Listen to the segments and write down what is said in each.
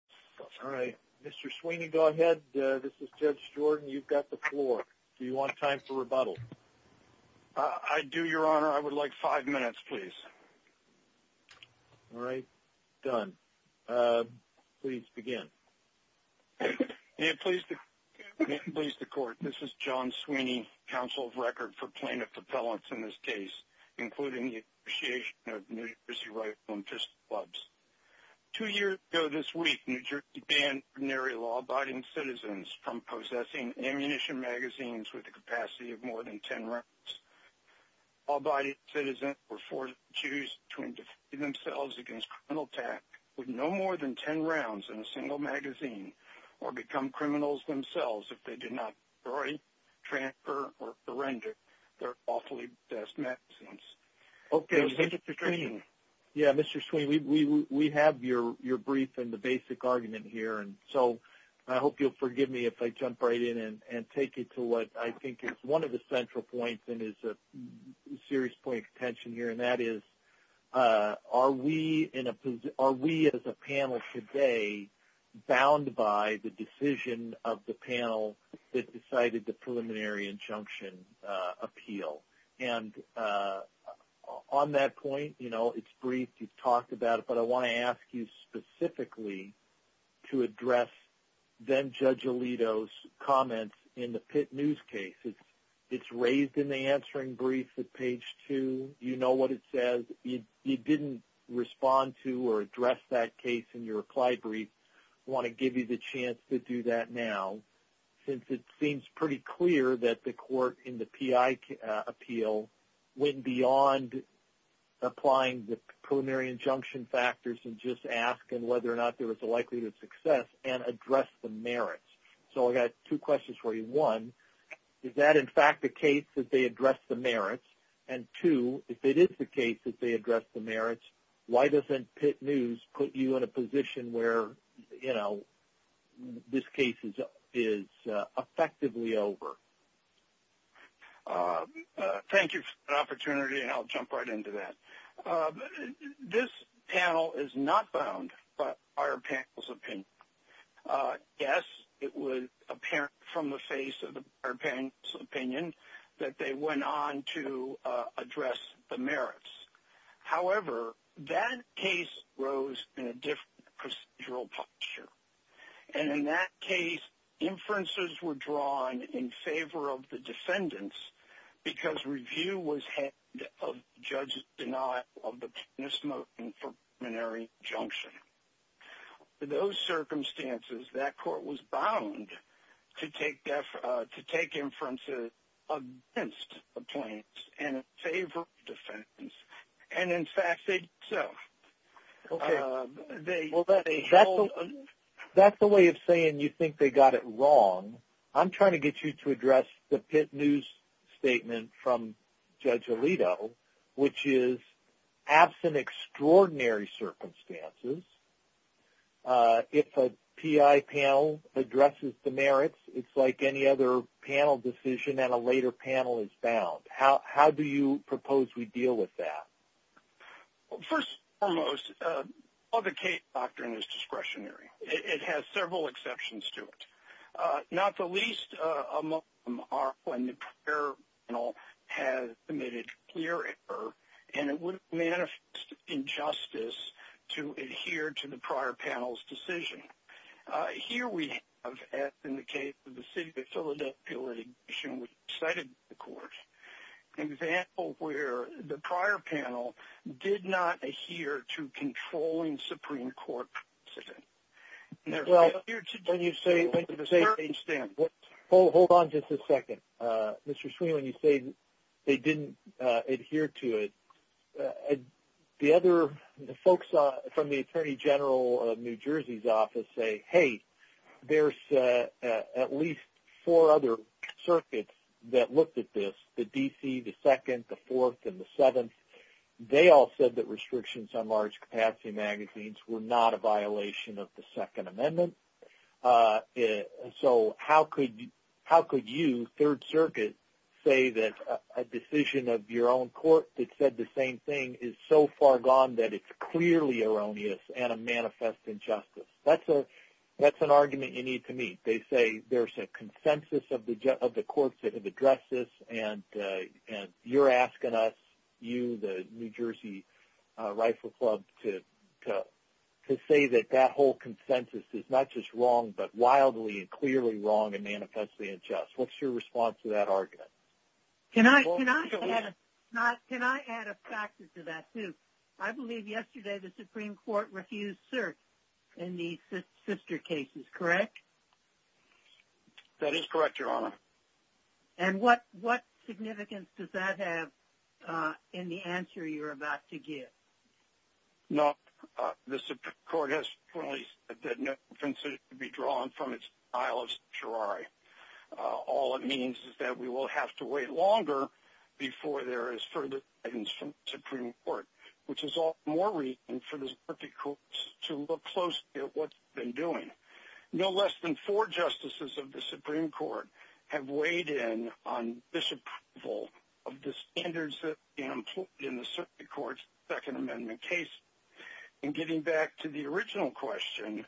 Rifle Pistol Clubs v. John Sweeney NJ Rifle Pistol Clubs v. John Sweeney NJ Rifle Pistol Clubs So I hope you'll forgive me if I jump right in and take you to what I think is one of the central points and is a serious point of contention here, and that is, are we as a panel today bound by the decision of the panel that decided the preliminary injunction appeal? And on that point, you know, it's briefed, you've talked about it, but I want to ask you specifically to address then-Judge Alito's comments in the Pitt News case. It's raised in the answering brief at page two. You know what it says. You didn't respond to or address that case in your reply brief. I want to give you the chance to do that now. Since it seems pretty clear that the court in the PI appeal went beyond applying the preliminary injunction factors and just asking whether or not there was a likelihood of success and addressed the merits. So I've got two questions for you. One, is that in fact the case that they addressed the merits? And two, if it is the case that they addressed the merits, why doesn't Pitt News put you in a position where, you know, this case is effectively over? Thank you for the opportunity, and I'll jump right into that. This panel is not bound by our panel's opinion. Yes, it was apparent from the face of our panel's opinion that they went on to address the merits. However, that case rose in a different procedural posture. And in that case, inferences were drawn in favor of the defendants because review was held of the judge's denial of the preliminary injunction. Under those circumstances, that court was bound to take inferences against the plaintiffs and in favor of the defendants. And in fact, they did so. That's a way of saying you think they got it wrong. I'm trying to get you to address the Pitt News statement from Judge Alito, which is, absent extraordinary circumstances, if a PI panel addresses the merits, it's like any other panel decision and a later panel is bound. How do you propose we deal with that? Well, first and foremost, all the case doctrine is discretionary. It has several exceptions to it. Not the least among them are when the prior panel has committed clear error and it would manifest injustice to adhere to the prior panel's decision. Here we have, as in the case of the City of Philadelphia litigation we cited in the court, an example where the prior panel did not adhere to a controlling Supreme Court decision. Hold on just a second. Mr. Sweeney, when you say they didn't adhere to it, the other folks from the Attorney General of New Jersey's office say, hey, there's at least four other circuits that looked at this, the D.C., the 2nd, the 4th, and the 7th. They all said that restrictions on large capacity magazines were not a violation of the Second Amendment. So how could you, Third Circuit, say that a decision of your own court that said the same thing is so far gone that it's clearly erroneous and a manifest injustice? That's an argument you need to meet. They say there's a consensus of the courts that have addressed this and you're asking us, you, the New Jersey Rifle Club, to say that that whole consensus is not just wrong but wildly and clearly wrong and manifestly unjust. What's your response to that argument? Can I add a factor to that, too? I believe yesterday the Supreme Court refused cert in the sister cases, correct? That is correct, Your Honor. And what significance does that have in the answer you're about to give? No, the Supreme Court has clearly said that no offense is to be drawn from its file of certiorari. All it means is that we will have to wait longer before there is further guidance from the Supreme Court, which is all the more reason for the circuit courts to look closely at what they've been doing. No less than four justices of the Supreme Court have weighed in on this approval of the standards that have been employed in the circuit courts in the Second Amendment cases. And getting back to the original question,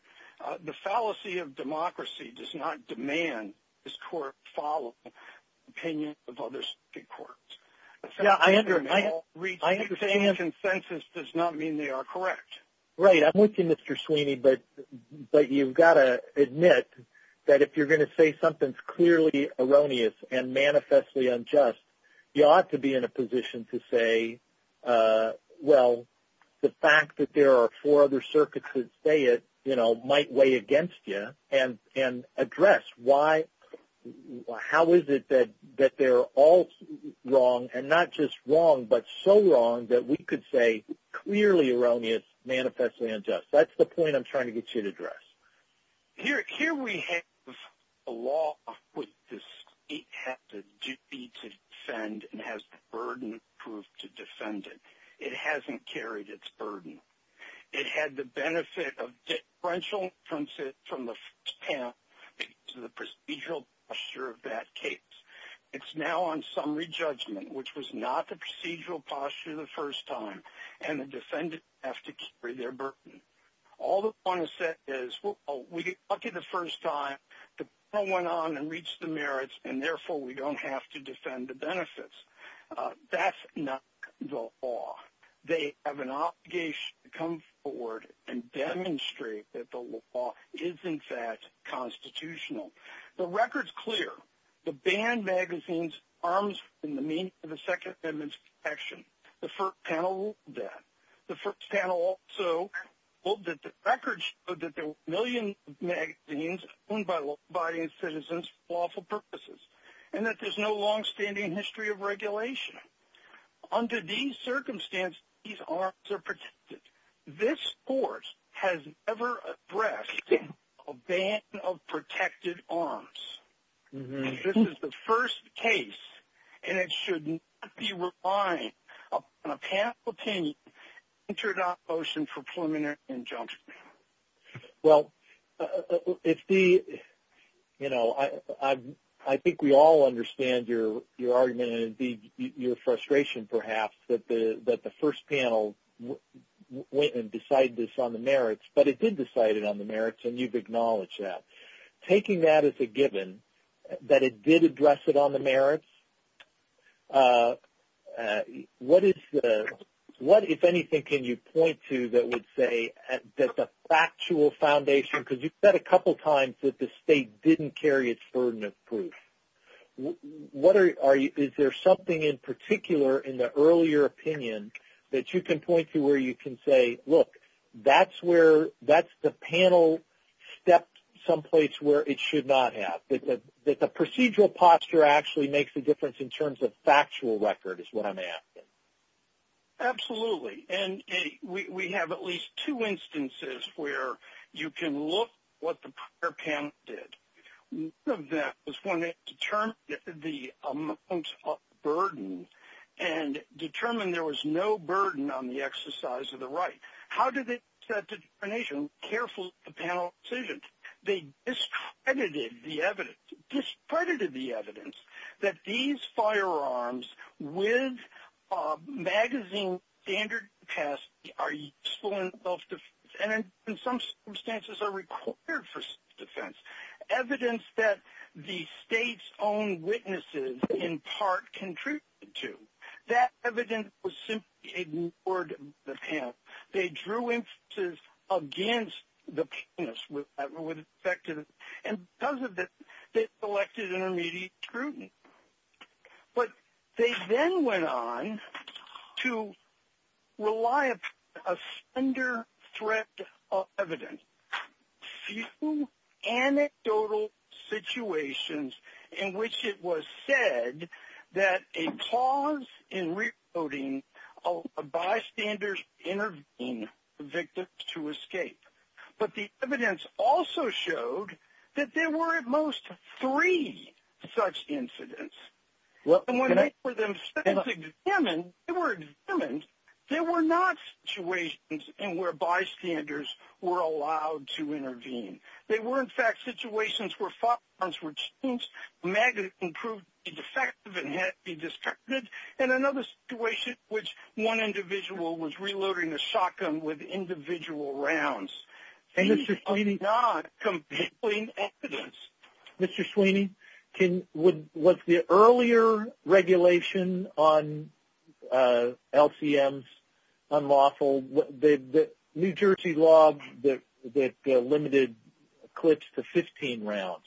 the fallacy of democracy does not demand this court follow the opinion of other circuit courts. Yeah, I understand. Rejecting consensus does not mean they are correct. Right. I'm with you, Mr. Sweeney, but you've got to admit that if you're going to say something's clearly erroneous and manifestly unjust, you ought to be in a position to say, well, the fact that there are four other circuits that say it, you know, might weigh against you, and address why, how is it that they're all wrong, and not just wrong, but so wrong that we could say clearly erroneous, manifestly unjust. That's the point I'm trying to get you to address. Here we have a law which the state has the duty to defend and has the burden to defend it. It hasn't carried its burden. It had the benefit of differential from the procedural posture of that case. It's now on summary judgment, which was not the procedural posture the first time, and the defendants have to carry their burden. All they want to say is, well, we got lucky the first time. The panel went on and reached the merits, and therefore, we don't have to defend the benefits. That's not the law. They have an obligation to come forward and demonstrate that the law is, in fact, constitutional. The record's clear. The banned magazines are in the second section. The first panel ruled that. The first panel also ruled that the record showed that there were a million magazines owned by law-abiding citizens for lawful purposes, and that there's no long-standing history of regulation. Under these circumstances, these arms are protected. This court has never addressed a ban of protected arms. This is the first case, and it should not be relied upon a patented motion for preliminary injunction. Well, I think we all understand your argument and, indeed, your frustration, perhaps, that the first panel went and decided this on the merits, but it did decide it on the merits, and you've acknowledged that. Taking that as a given, that it did address it on the merits, what, if anything, can you point to that would say that the factual foundation, because you've said a couple times that the state didn't carry its burden of proof. Is there something in particular in the earlier opinion that you can point to where you can say, look, that's the panel stepped someplace where it should not have, that the procedural posture actually makes a difference in terms of factual record is what I'm asking. Absolutely. And we have at least two instances where you can look at what the prior panel did. One of them was when it determined the amount of burden and determined there was no burden on the exercise of the right. How did the determination careful of the panel's decision? They discredited the evidence that these firearms with magazine standard capacity are useful in self-defense and, in some circumstances, are required for self-defense. Evidence that the state's own witnesses, in part, contributed to. That evidence was simply ignored by the panel. They drew inferences against the panel, and because of this, they selected intermediate scrutiny. But they then went on to rely on a thunder threat of evidence. Few anecdotal situations in which it was said that a pause in recoding of a bystander's intervening victim to escape. But the evidence also showed that there were, at most, three such incidents. And when they were themselves examined, they were examined, there were not situations in where bystanders were allowed to intervene. They were, in fact, situations where firearms were changed, the magazine proved to be defective and had to be discarded, and another situation in which one individual was reloading a shotgun with individual rounds. And these are not compelling evidence. Mr. Sweeney, was the earlier regulation on LCMs unlawful? The New Jersey law that limited clips to 15 rounds.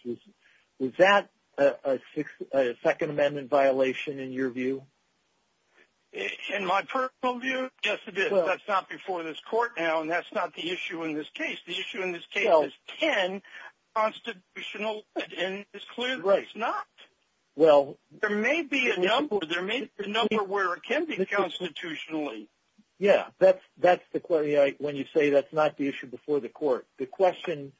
Was that a Second Amendment violation in your view? In my personal view, yes it is. That's not before this court now, and that's not the issue in this case. The issue in this case is 10 constitutional limits, and it's clear that it's not. There may be a number where it can be constitutionally. Yeah, when you say that's not the issue before the court, the question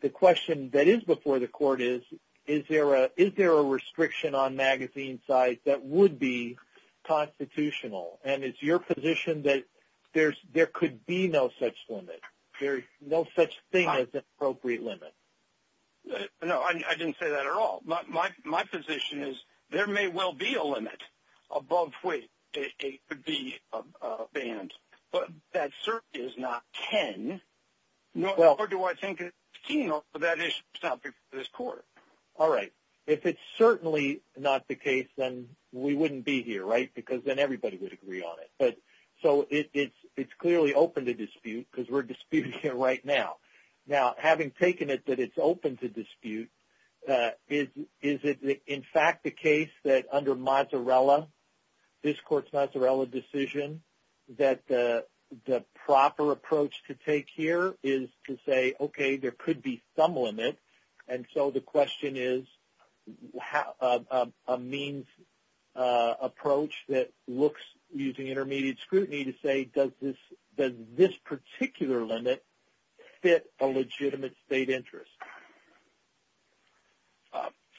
that is before the court is, is there a restriction on magazine size that would be constitutional? And is your position that there could be no such limit? There's no such thing as an appropriate limit. No, I didn't say that at all. My position is there may well be a limit above which it could be banned, but that certainly is not 10, nor do I think it's 15, or that issue is not before this court. All right. If it's certainly not the case, then we wouldn't be here, right? Because then everybody would agree on it. So it's clearly open to dispute, because we're disputing it right now. Now, having taken it that it's open to dispute, is it in fact the case that under this court's Mozzarella decision that the proper approach to take here is to say, okay, there could be some limit, and so the question is a means approach that looks, using intermediate scrutiny, to say does this particular limit fit a legitimate state interest?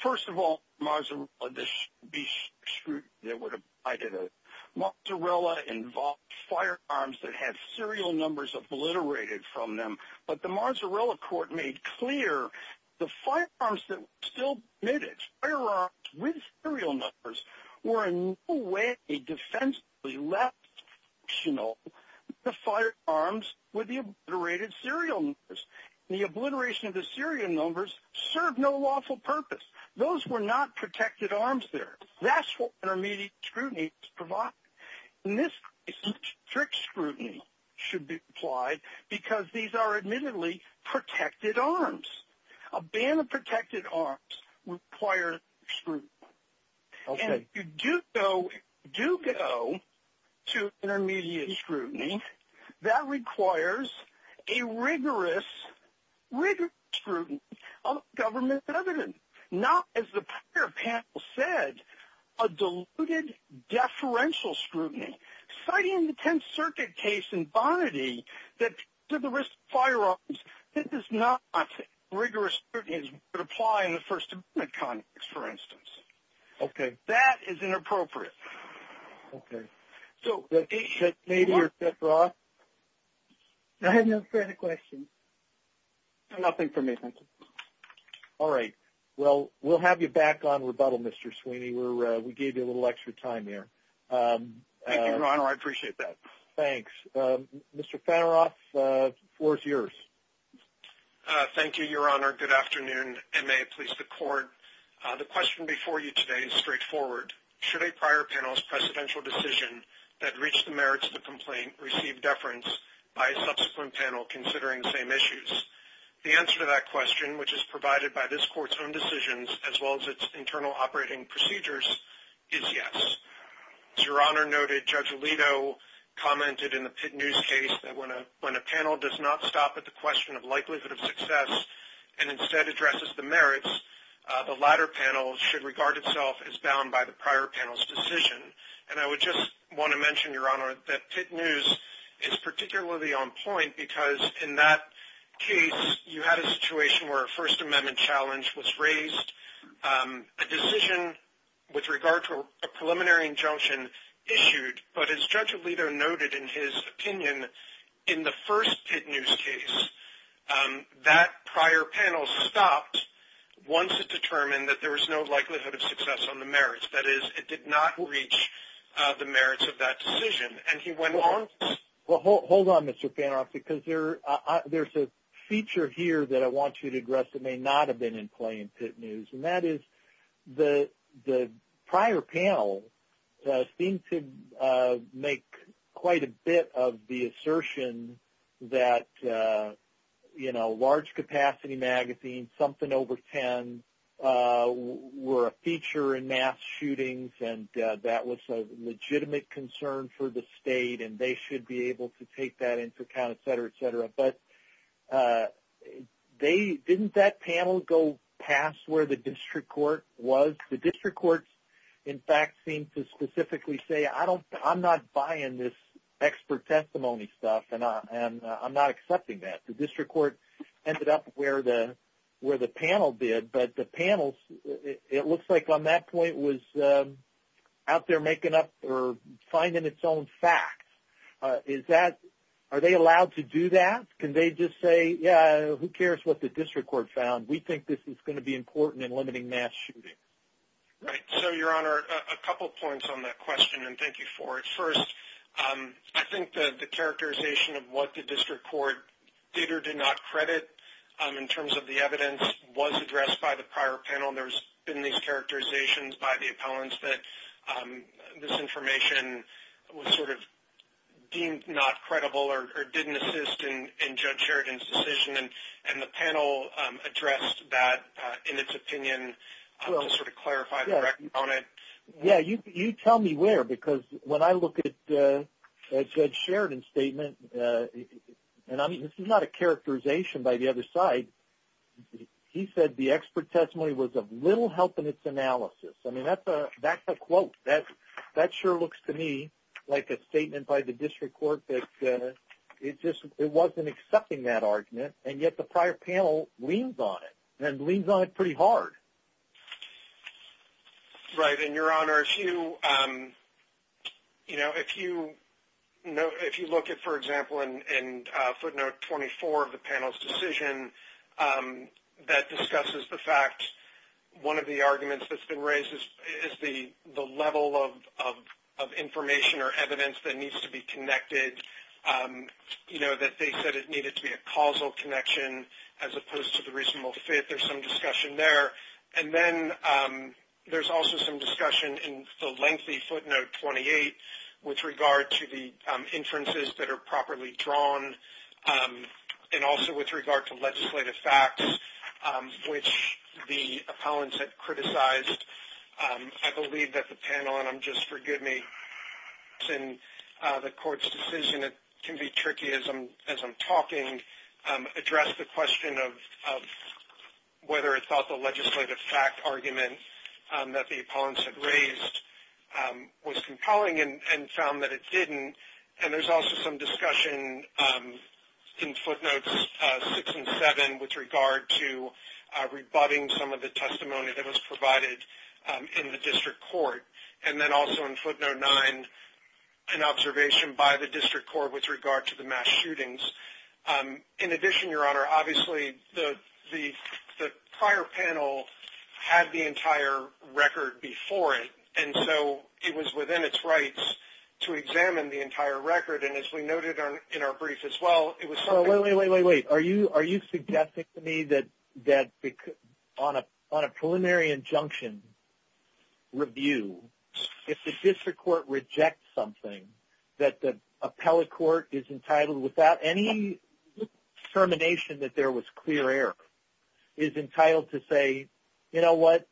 First of all, Mozzarella involved firearms that had serial numbers obliterated from them, but the Mozzarella court made clear the firearms that were still admitted, firearms with serial numbers, were in no way defensively less functional than the firearms with the obliterated serial numbers. The obliteration of the serial numbers served no lawful purpose. Those were not protected arms there. That's what intermediate scrutiny provides. And this strict scrutiny should be applied because these are admittedly protected arms. A ban of protected arms requires scrutiny. And if you do go to intermediate scrutiny, that requires a rigorous, rigorous scrutiny of government evidence. Not, as the prior panel said, a diluted deferential scrutiny. Citing the Tenth Circuit case in Bonnetty that to the risk of firearms, this is not a rigorous scrutiny that would apply in the First Amendment context, for instance. Okay. That is inappropriate. Okay. So, Nadia or Seth Ross? I have no further questions. Nothing for me, thank you. All right. Well, we'll have you back on rebuttal, Mr. Sweeney. We gave you a little extra time there. Thank you, Your Honor. I appreciate that. Thanks. Mr. Fanneroth, the floor is yours. Thank you, Your Honor. Good afternoon, and may it please the Court. The question before you today is straightforward. Should a prior panel's presidential decision that reached the merits of the complaint receive deference by a subsequent panel considering the same issues? The answer to that question, which is provided by this Court's own decisions, as well as its internal operating procedures, is yes. As Your Honor noted, Judge Alito commented in the Pitt News case that when a panel does not stop at the question of likelihood of success and instead addresses the merits, the latter panel should regard itself as bound by the prior panel's decision. And I would just want to mention, Your Honor, that Pitt News is particularly on point because in that case you had a situation where a First Amendment challenge was raised, a decision with regard to a preliminary injunction issued, but as Judge Alito noted in his opinion, in the first Pitt News case, that prior panel stopped once it determined that there was no likelihood of success on the merits. That is, it did not reach the merits of that decision. And he went on... Well, hold on, Mr. Fanoff, because there's a feature here that I want you to address that may not have been in play in Pitt News, and that is the prior panel seemed to make quite a bit of the assertion that large capacity magazines, something over 10, were a feature in mass shootings and that was a legitimate concern for the State and they should be able to take that into account, etc., etc. But didn't that panel go past where the District Court was? The District Courts, in fact, seemed to specifically say, I'm not buying this expert testimony stuff and I'm not accepting that. The District Court ended up where the panel did, but the panel, it looks like on that point, was out there making up or finding its own facts. Are they allowed to do that? Can they just say, yeah, who cares what the District Court found? We think this is going to be important in limiting mass shootings. Right. So, Your Honor, a couple points on that question and thank you for it. First, I think the characterization of what the District Court did or did not credit in terms of the evidence was addressed by the prior panel and there's been these characterizations by the appellants that this information was deemed not credible or didn't assist in Judge Sheridan's decision and the panel addressed that in its opinion to clarify the record on it. Yeah, you tell me where because when I look at Judge Sheridan's statement, and this is not a characterization by the other side, he said the expert testimony was of little help in its analysis. I mean, that's a quote. That sure looks to me like a statement by the District Court that it wasn't accepting that argument and yet the prior panel leans on it and leans on it pretty hard. Right. And, Your Honor, if you look at, for example, in footnote 24 of the panel's decision that discusses the fact that one of the arguments that's been raised is the level of information or evidence that needs to be connected, you know, that they said it needed to be a causal connection as opposed to the reasonable fit. There's some discussion there and then there's also some discussion in the lengthy footnote 28 with regard to the inferences that are properly drawn and also with regard to legislative facts which the appellants had criticized. I believe that the panel, and I'm just, forgive me, in the court's decision, it can be tricky as I'm talking, addressed the question of whether it thought the legislative fact argument that the appellants had raised was compelling and found that it didn't and there's also some discussion in footnotes 6 and 7 with regard to rebutting some of the testimony that was provided in the district court and then also in footnote 9 an observation by the district court with regard to the mass shootings. In addition, Your Honor, obviously the prior panel had the entire record before it and so it was within its rights to examine the entire record and as we noted in our brief as well, it was something... Wait, wait, wait, wait, wait. Are you suggesting to me that on a preliminary injunction review, if the district court rejects something, that the appellate court is entitled without any determination that there was clear error, is entitled to say, you know what,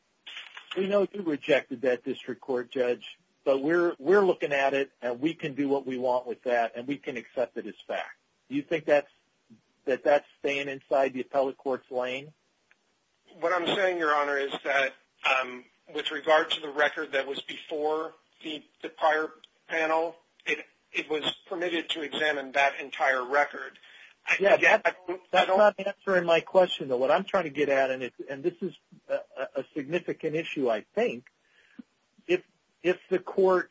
we know you rejected that district court, Judge, but we're looking at it and we can do what we want with that and we can accept it as fact. That that's staying inside the appellate court's lane? What I'm saying, Your Honor, is that with regard to the record that was before the prior panel, it was permitted to examine that entire record. That's not answering my question, though. What I'm trying to get at, and this is a significant issue, I think, if the court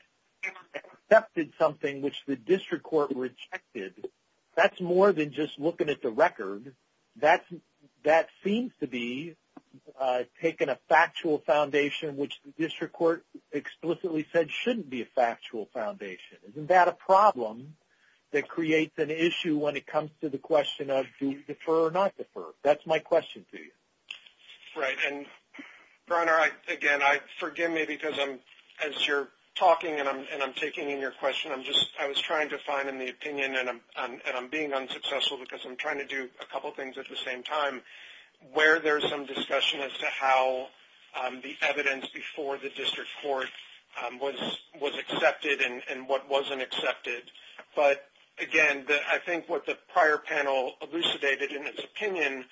accepted something which the district court rejected, that's more than just looking at the record. That seems to be taking a factual foundation which the district court explicitly said shouldn't be a factual foundation. Isn't that a problem that creates an issue when it comes to the question of do we defer or not defer? That's my question to you. Right, and, Brenner, again, forgive me because as you're talking and I'm taking in your question, I was trying to find an opinion and I'm being unsuccessful because I'm trying to do a couple things at the same time where there's some discussion as to how the evidence before the district court was accepted and what wasn't accepted. But, again, I think what the prior panel elucidated in its opinion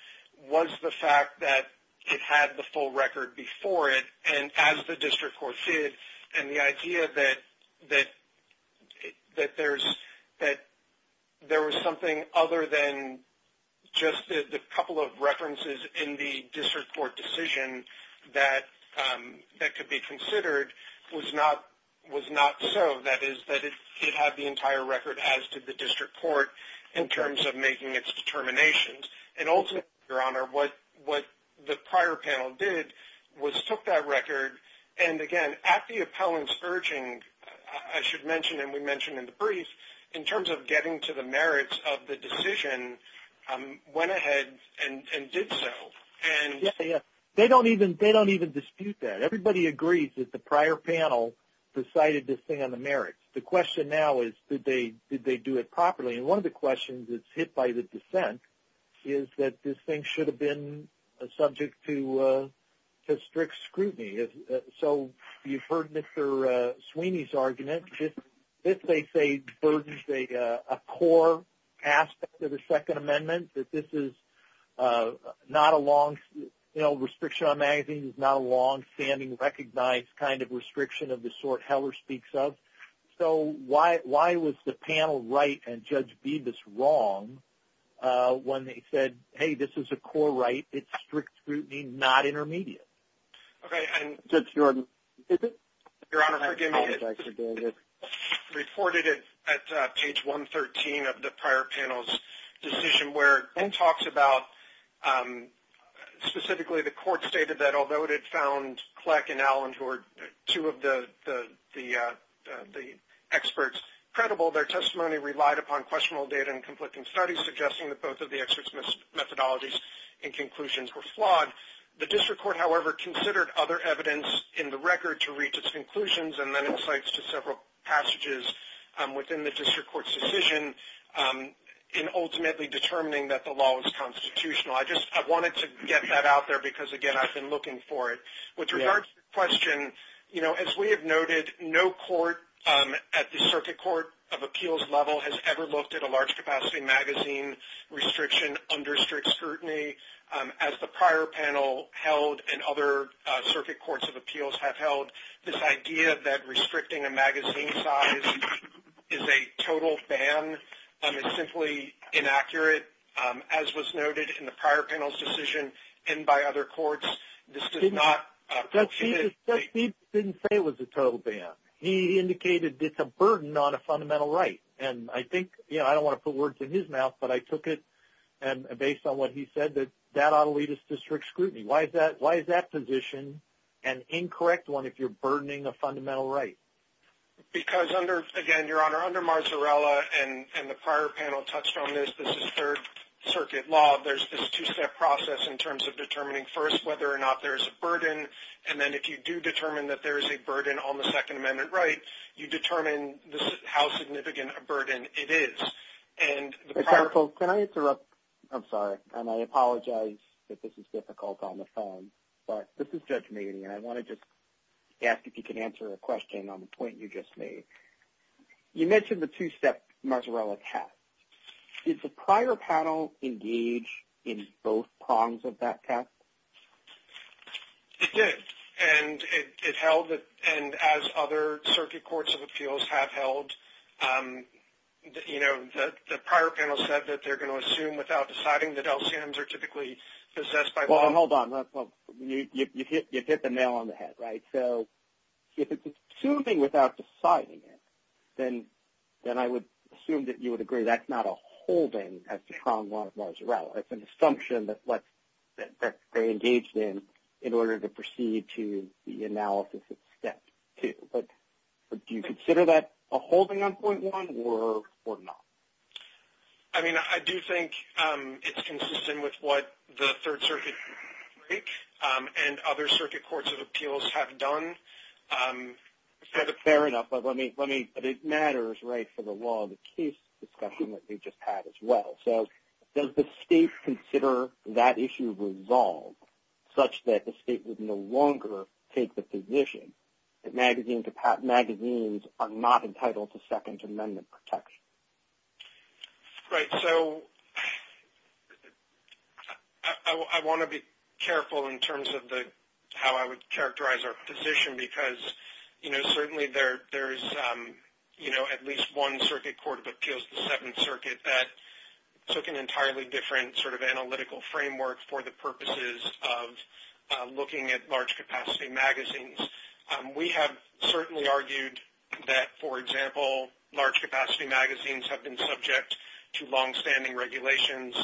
was the fact that it had the full record before it and as the district court did and the idea that there was something other than just the couple of references in the district court decision that could be considered was not so. That is, that it had the entire record as to the district court in terms of making its determinations. And, ultimately, Your Honor, what the prior panel did was took that record and, again, at the appellant's urging, I should say, as Richard mentioned and we mentioned in the brief, in terms of getting to the merits of the decision, went ahead and did so. They don't even dispute that. Everybody agrees that the prior panel decided this thing on the merits. The question now is did they do it properly? And one of the questions that's hit by the dissent is that this thing should have been a subject to strict scrutiny. So you've heard Mr. Sweeney's argument. This, they say, burdens a core aspect of the Second Amendment that this is not a long, you know, restriction on magazines is not a long-standing, recognized kind of restriction of the sort Heller speaks of. So why was the panel right and Judge Bibas wrong when they said, hey, this is a core right. It's strict scrutiny, not intermediate. Okay. Judge Jordan, is it? Your Honor, forgive me. It's reported at page 113 of the prior panel's decision where it talks about, specifically, the court stated that although it had found Kleck and Allen, who are two of the experts, credible, their testimony relied upon questionable data and conflicting studies suggesting that both of the experts' methodologies and conclusions were flawed. The court, however, considered other evidence in the record to reach its conclusions and then insights to several passages within the district court's decision in ultimately determining that the law was constitutional. I just, I wanted to get that out there because, again, I've been looking for it. With regard to your question, you know, as we have noted, no court at the circuit court of appeals level has ever looked at a large-capacity magazine restriction under strict scrutiny that other circuit courts of appeals have held. This idea that restricting a magazine size is a total ban is simply inaccurate. As was noted in the prior panel's decision and by other courts, this did not... Judge Steeves didn't say it was a total ban. He indicated it's a burden on a fundamental right. And I think, you know, I don't want to put words in his mouth, but I took it based on what he said, that that ought to lead us to strict scrutiny. That's a position, an incorrect one, if you're burdening a fundamental right. Because under, again, Your Honor, under Marzarella and the prior panel touched on this, this is third circuit law. There's this two-step process in terms of determining first whether or not there's a burden. And then if you do determine that there is a burden on the Second Amendment right, you determine how significant a burden it is. And the prior... This is Judge Maney, and I want to just ask if you can answer a question on the point you just made. You mentioned the two-step Marzarella test. Did the prior panel engage in both prongs of that test? It did. And it held, and as other circuit courts of appeals have held, you know, the prior panel said that they're going to assume without deciding that LCMs are typically possessed by... Well, hold on. You hit the nail on the head, right? So if it's assuming without deciding it, then I would assume that you would agree that's not a holding as to prong one of Marzarella. It's an assumption that they engaged in in order to proceed to the analysis of step two. But do you consider that a holding on point one or not? I mean, I do think that's what the Third Circuit and other circuit courts of appeals have done. Fair enough. But it matters, right, for the law of the case discussion that we just had as well. So does the state consider that issue resolved such that the state would no longer take the position that magazines are not entitled to Second Amendment protection? Right. So I want to be careful in terms of the... how I would characterize our position because, you know, certainly there's, you know, at least one circuit court of appeals, the Seventh Circuit, that took an entirely different sort of analytical framework for the purposes of looking at large capacity magazines. We have certainly argued that, for example, large capacity magazines have been subject to longstanding regulations.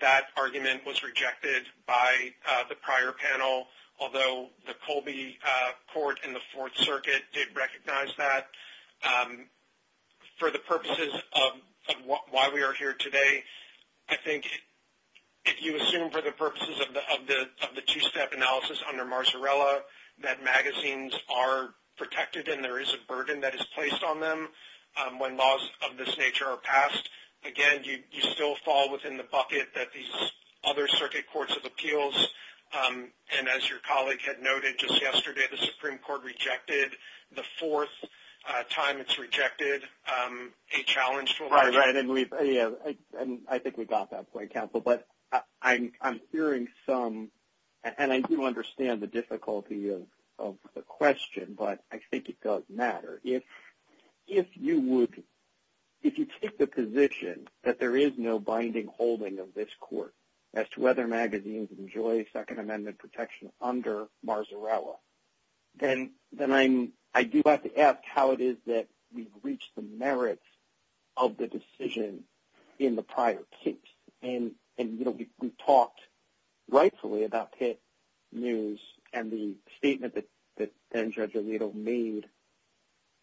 That argument was rejected by the prior panel, although the Colby Court and the Fourth Circuit did recognize that. For the purposes of why we are here today, I think if you assume for the purposes of the two-step analysis under Marsarella that magazines are protected and there is a burden that is placed on them when laws of this nature are passed, again, you still fall within the bucket that these other circuit courts of appeals and, as your colleague had noted just yesterday, the Supreme Court rejected the fourth time it's rejected a challenge to... Right, right. And I think we got that point, Counsel, but I'm hearing some... and I do understand the difficulty of the question, but I think it does matter. If you would... If you take the position that there is no binding holding of this court as to whether magazines enjoy Second Amendment protection under Marsarella, then I'm... I do have to ask how it is that we've reached the merits of the decision in the prior case. And, you know, we talked rightfully about Pitt News and the statement that Judge Alito made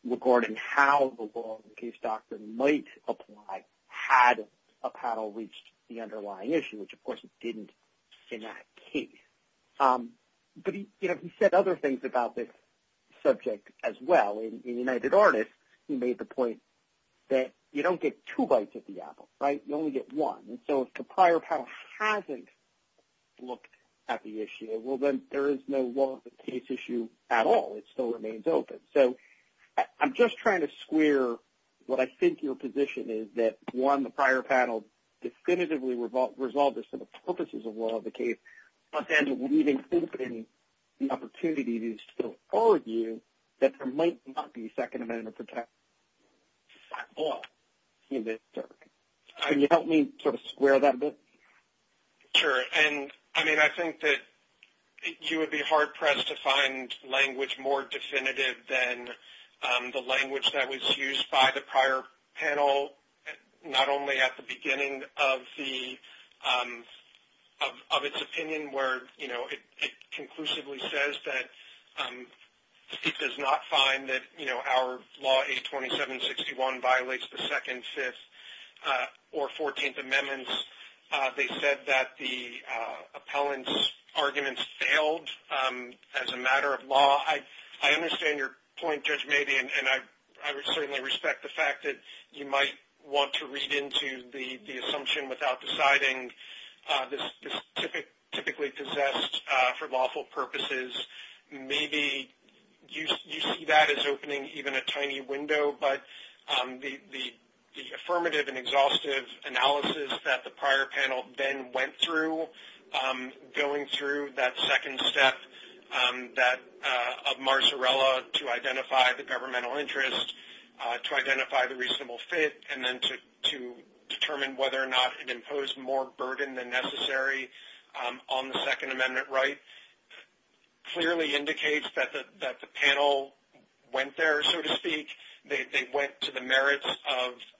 regarding how the law of the case doctrine might apply had a panel reached the underlying issue, which, of course, it didn't in that case. But, you know, he said other things about this subject as well. In United Artists, he made the point that you don't get two bites at the apple, right? You only get one. And so if the prior panel hasn't looked at the issue, well, then, there is no law of the case issue at all. It still remains open. So I'm just trying to square what I think your position is that, one, the prior panel definitively resolved the purposes of law of the case but then leaving open the opportunity to still argue that there might not be Second Amendment at all in this circuit. Can you help me sort of square that a bit? Sure. And, I mean, I think that you would be hard-pressed to find language more definitive than the language that was used by the prior panel not only at the beginning of the of its opinion where, you know, it conclusively says that it does not find that, you know, 827-61 violates the Second, Fifth, or Fourteenth Amendments. They said that the appellant's arguments failed as a matter of law. I understand your point, Judge Mabey, and I would certainly respect the fact that you might want to read into the assumption without deciding this is typically possessed for lawful purposes. Maybe you see that as opening even a tiny window, but the affirmative and exhaustive analysis that the prior panel then went through going through that second step of Marsarella to identify the governmental interest, to identify the reasonable fit, and then to determine whether or not it imposed more burden than necessary on the Second Amendment right clearly indicates that the panel went there, so to speak. They went to the merits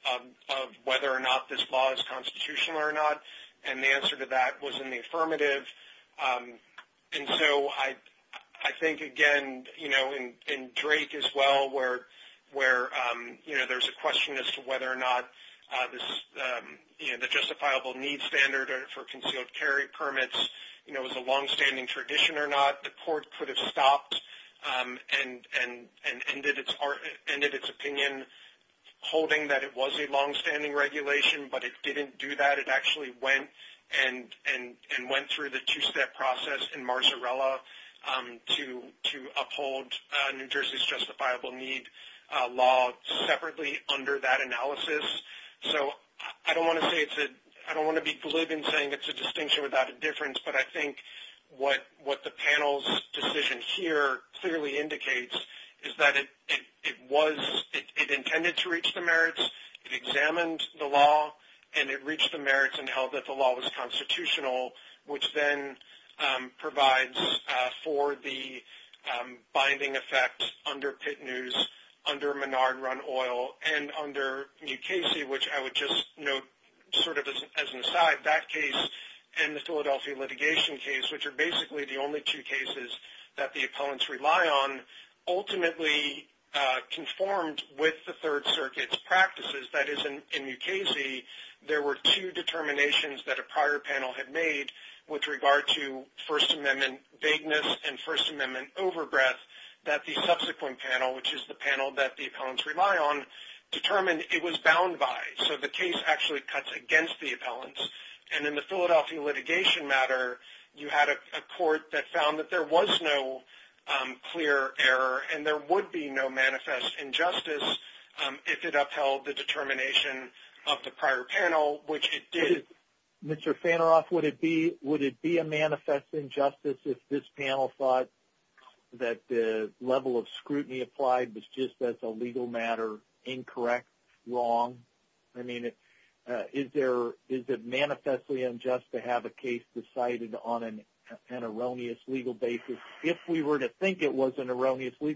of whether or not this law is constitutional or not, and the answer to that was in the affirmative. And so I think, again, in Drake as well, where there's a question as to whether or not the justifiable need standard for concealed carry permits was a longstanding tradition or not, the court could have stopped and ended its opinion holding that it was a longstanding regulation, but it didn't do that. It actually went and went through the two-step process in Marsarella to uphold New Jersey's justifiable need law separately under that analysis. So I don't want to be glib in saying it's a distinction without a difference, but I think what the panel's decision here clearly indicates is that it intended to reach the merits, it examined the law, and it reached the merits and held that the law was constitutional, which then provides for the binding effect under Pit News, under Menard Oil, and under Mukasey, which I would just note sort of as an aside, that case and the Philadelphia litigation case, which are basically the only two cases that the opponents rely on, ultimately conformed with the Third Circuit's practices. That is, in Mukasey, there were two determinations that a prior panel had made with regard to First Amendment vagueness and First Amendment overbreath, that the subsequent panel, which is the panel that the opponents rely on, determined it was bound by. So the case actually cuts against the opponents, and in the Philadelphia litigation matter, you had a court that found that there was no clear error, and there would not be a manifest injustice if this panel thought that the level of scrutiny applied was just as a legal matter, incorrect, wrong. I mean, is it manifestly unjust to have a case decided on an erroneous legal basis if we were to think it was an erroneous case, or is it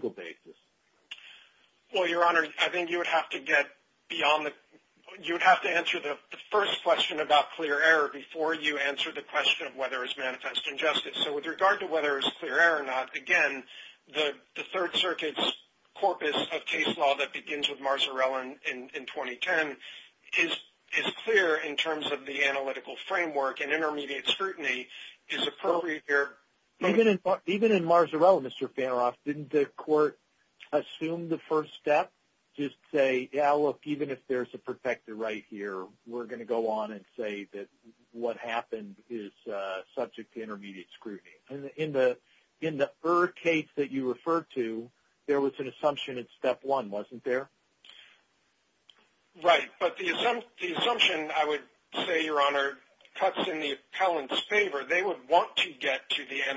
manifest injustice? So with regard to whether it is clear error or not, again, the Third Circuit's corpus of case law that begins with Marzarella in 2010 is clear in terms of the analytical framework and intermediate scrutiny is appropriate here. Even in Marzarella, Mr. Fanoff, didn't the court assume the first step? Just say, yeah, look, even if there's a protected right here, we're going to go on and say that what happened is subject to intermediate scrutiny. In the er case that you referred to, there was an assumption in step one, wasn't there? Right. But the assumption, I would say, Your Honor, cuts in the appellant's favor. They would want to get to the point that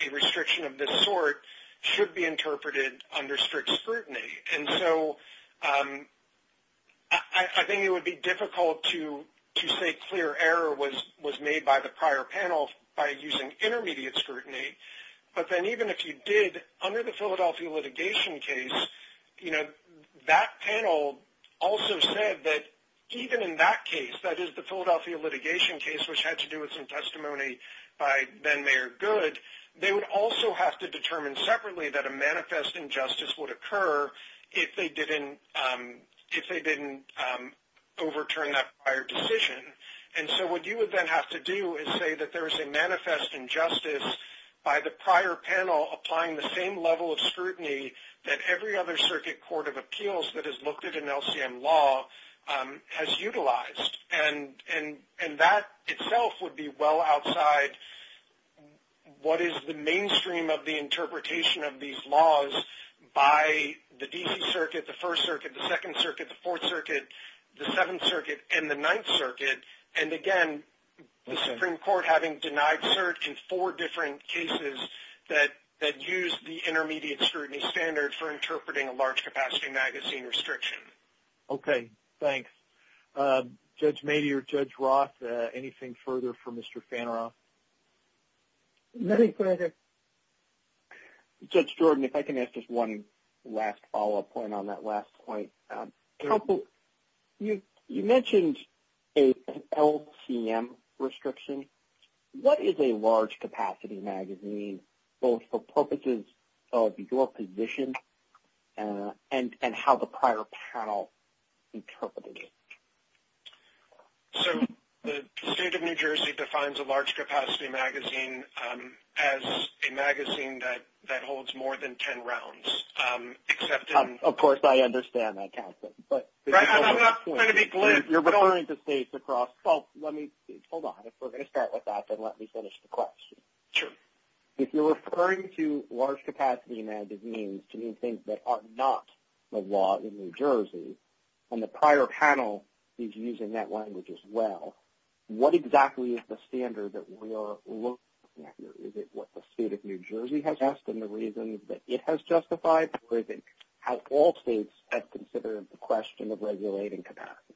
the restriction of this sort should be interpreted under strict scrutiny. I think it would be difficult to say clear error was made by the prior panel by using intermediate scrutiny, but even if you did, under the Philadelphia litigation case, that panel also said that even in that case, that is the Philadelphia litigation case, which had to do with some testimony by then Mayor Good, they would also have to determine separately that a manifest injustice would occur if they didn't overturn that prior decision. And so what you would then have to do is say that there is a manifest injustice by the prior panel applying the same level of scrutiny that every other circuit court of appeals that has looked at an LCM law has utilized. And that itself would be well outside what is the scope of the case. And again, the Supreme Court having denied cert in four different cases that used the intermediate scrutiny standard for interpreting a large-capacity magazine restriction. Okay, thanks. Judge Mady or Judge Roth, anything further for Mr. Faneroff? Nothing at this point. I mentioned an LCM restriction. What is a large-capacity magazine both for purposes of your position and how the prior panel interpreted it? So the state of New Jersey defines a large-capacity magazine as a magazine that holds more than 10 rounds except in Of course, I understand that. But you're referring to states across hold on, if we're going to start with that, let me finish the question. If you're referring to large-capacity magazines to mean things that are not the law in New Jersey and the prior panel is using that language as well, what exactly is the question of regulating capacity?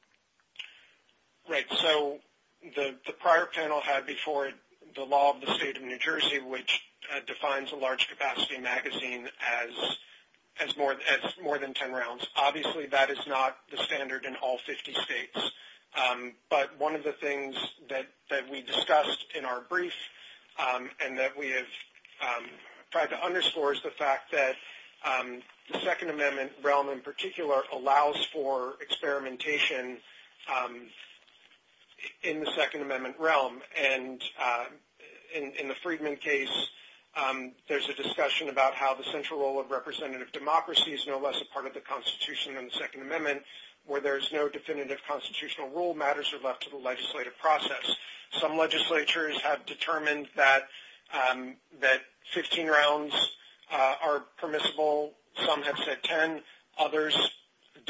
Right. So the prior panel had before the law of the state of New Jersey which defines a large-capacity magazine as more than 10 rounds. Obviously, that is not the standard in all 50 states. But one of the things that we discussed in our brief and that we discussed central role of representative democracy allows for experimentation in the Second Amendment realm. And in the Friedman case, there's a discussion about how the central role of representative democracy is no less a part of the Constitution than the Second Amendment where there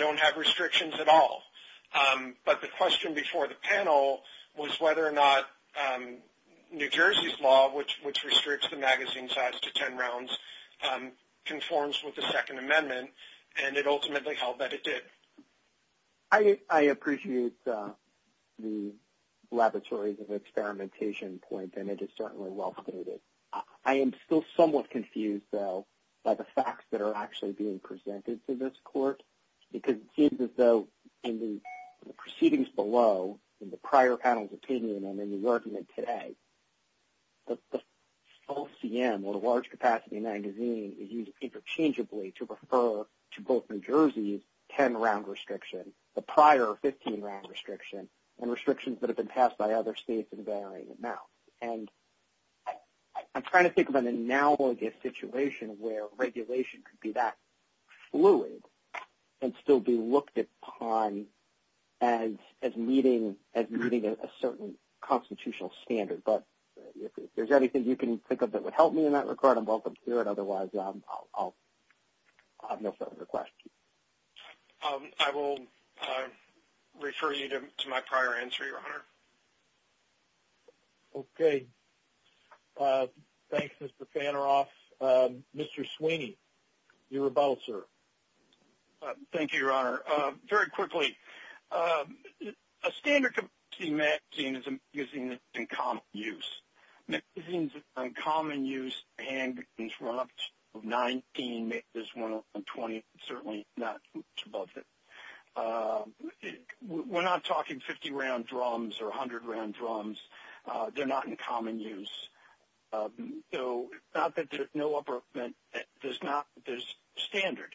don't have restrictions at all. But the question before the panel was whether or not New Jersey's law, which restricts the magazine size to 10 rounds, conforms with the Second Amendment, and it ultimately held that it did. I appreciate the laboratories and experimentation point, and it is certainly well stated. I am still confused, though, by the facts that are actually being presented to this court because it seems as though in the proceedings below, in the prior panel's opinion and in the argument today, the small CM or the large capacity magazine is used interchangeably to refer to both New Jersey's 10-round restriction, the prior 15-round restriction, and restrictions that have been passed by other states in varying amounts. And I'm trying to think of an analogous situation where regulation could be that fluid and still be looked upon as meeting a certain constitutional standard, but if there's anything you can think of that would help me in that situation, otherwise I'll have no further questions. refer you to my prior answer, Your Honor. Okay. Thanks, Mr. Fanneroff. Mr. Sweeney, you're about, sir. Thank you, Your Honor. Very quickly, a standard magazine is a magazine in common use. Magazines in common use, handwritten run-ups of 19, there's one on 20, certainly not much above that. We're not talking 50-round drums or 100-round drums. They're not in common use. So not that there's no upper limit, there's not, there's standard.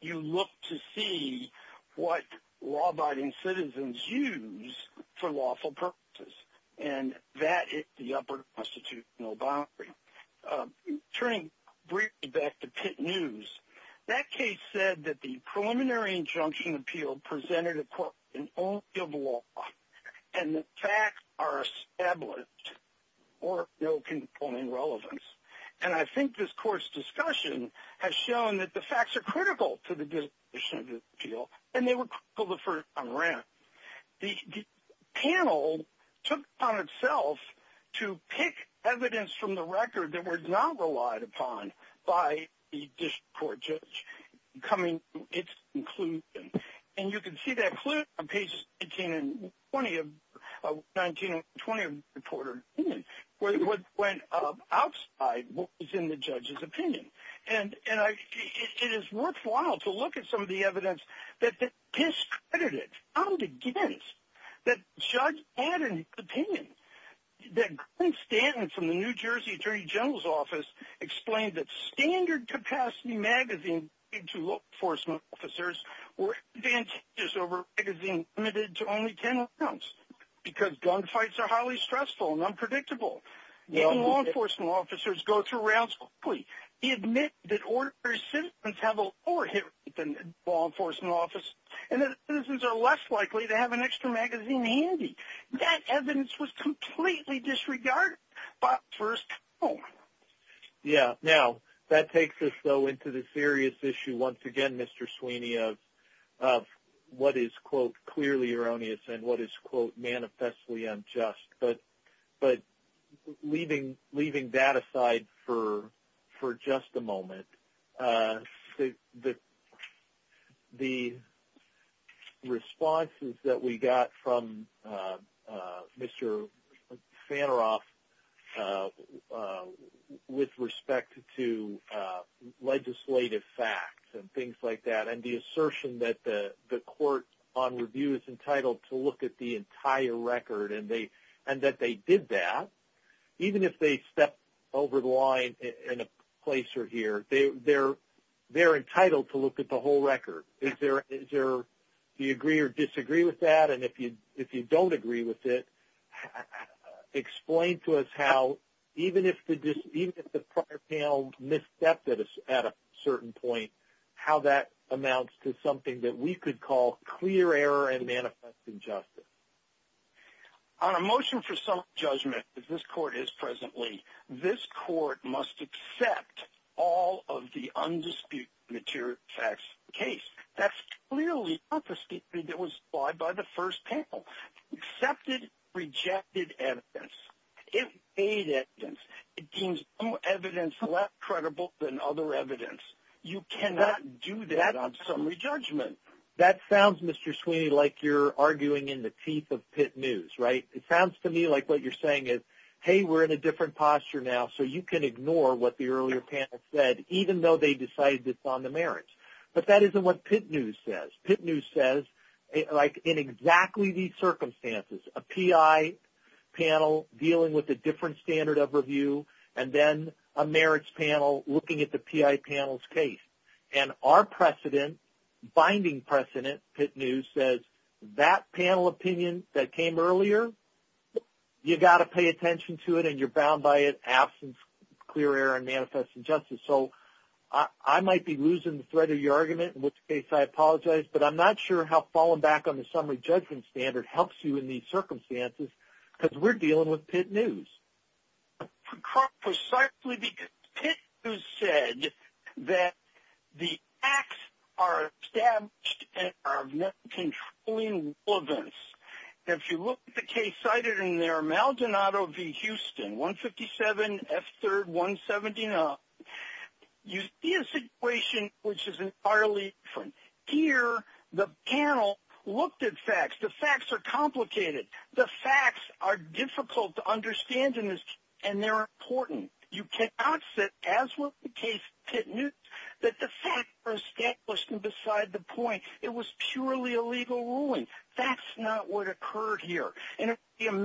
You look to see what law-abiding citizens use for lawful purposes. And that is the upper constitutional boundary. Turning briefly back to Pitt News, that case said that the preliminary injunction appeal presented a court in all field of law and the facts are established or no component relevance. And I think this court's panel took upon itself to pick evidence from the record that were not relied upon by the district court judge coming to its conclusion. And you can see that clearly on pages 18 and 20 of 19 and 20 of the reporter's opinion. What went outside was in the judge's opinion. And it is worthwhile to look at some of the evidence that the judge had in his opinion. The New Jersey attorney general's office explained that standard capacity magazines were limited to only 10 rounds because gunfights are highly stressful and unpredictable. Law enforcement officers go through rounds quickly. They admit that ordinary citizens have a lower hit rate than law enforcement officers and citizens are less likely to have an extra magazine handy. That evidence was completely disregarded by first court. That takes us into the serious issue once again Mr. Sweeney of what is clearly not the case at the moment. The responses that we got from Mr. Fanneroff with respect to legislative facts and things like that and the assertion that the court on review is entitled to look at the entire record and that they did that even if they stepped over the line in a place or here. They're entitled to look at the whole record. Do you agree or disagree with that and if you don't agree with it explain to us how even if the prior panel misstepped at a certain point how that amounts to something that we could call clear error and that the court must accept all of the undisputed material facts in the case. That's clearly not the statement that was applied by the first panel. Accepted rejected evidence. It deems no evidence less credible than other evidence. You cannot do that on summary judgment. That sounds Mr. Sweeney like you're arguing in the teeth of pit news. It sounds to me like what you're saying is hey we're in a different posture now so you can ignore what the earlier panel said even though they decided it's on the merits. But that isn't what pit news says. Pit news says in exactly these circumstances, a PI panel dealing with a different standard of review and then a merits panel looking at the PI panel's case. And our precedent, binding precedent pit news says that panel opinion that came earlier, you got to pay attention to it and you're bound by it, absence, clear error and manifest injustice. And so I might be losing the thread of your argument in which case I apologize but I'm not sure how falling back on the summary judgment standard helps you in these circumstances because we're dealing with pit news. Precisely because pit news said that the acts are established and are of net controlling relevance. If you look at the case cited in there, Aldonado v. Houston, 157, F3rd, 179, you see a situation which is entirely different. Here, the panel looked at facts. The facts are complicated. The facts are difficult to understand and they're important. You cannot sit as with the case pit news that the facts are established and are of net controlling relevance. You cannot sit as case pit news that the facts are difficult to understand important. You cannot sit as with the case pit news that the facts are complicated. You cannot sit as with the case pit news that the facts are difficult and are of net relevance. You cannot sit as that the facts are of net controlling relevance. You cannot sit as with the case pit news that the facts are difficult. You cannot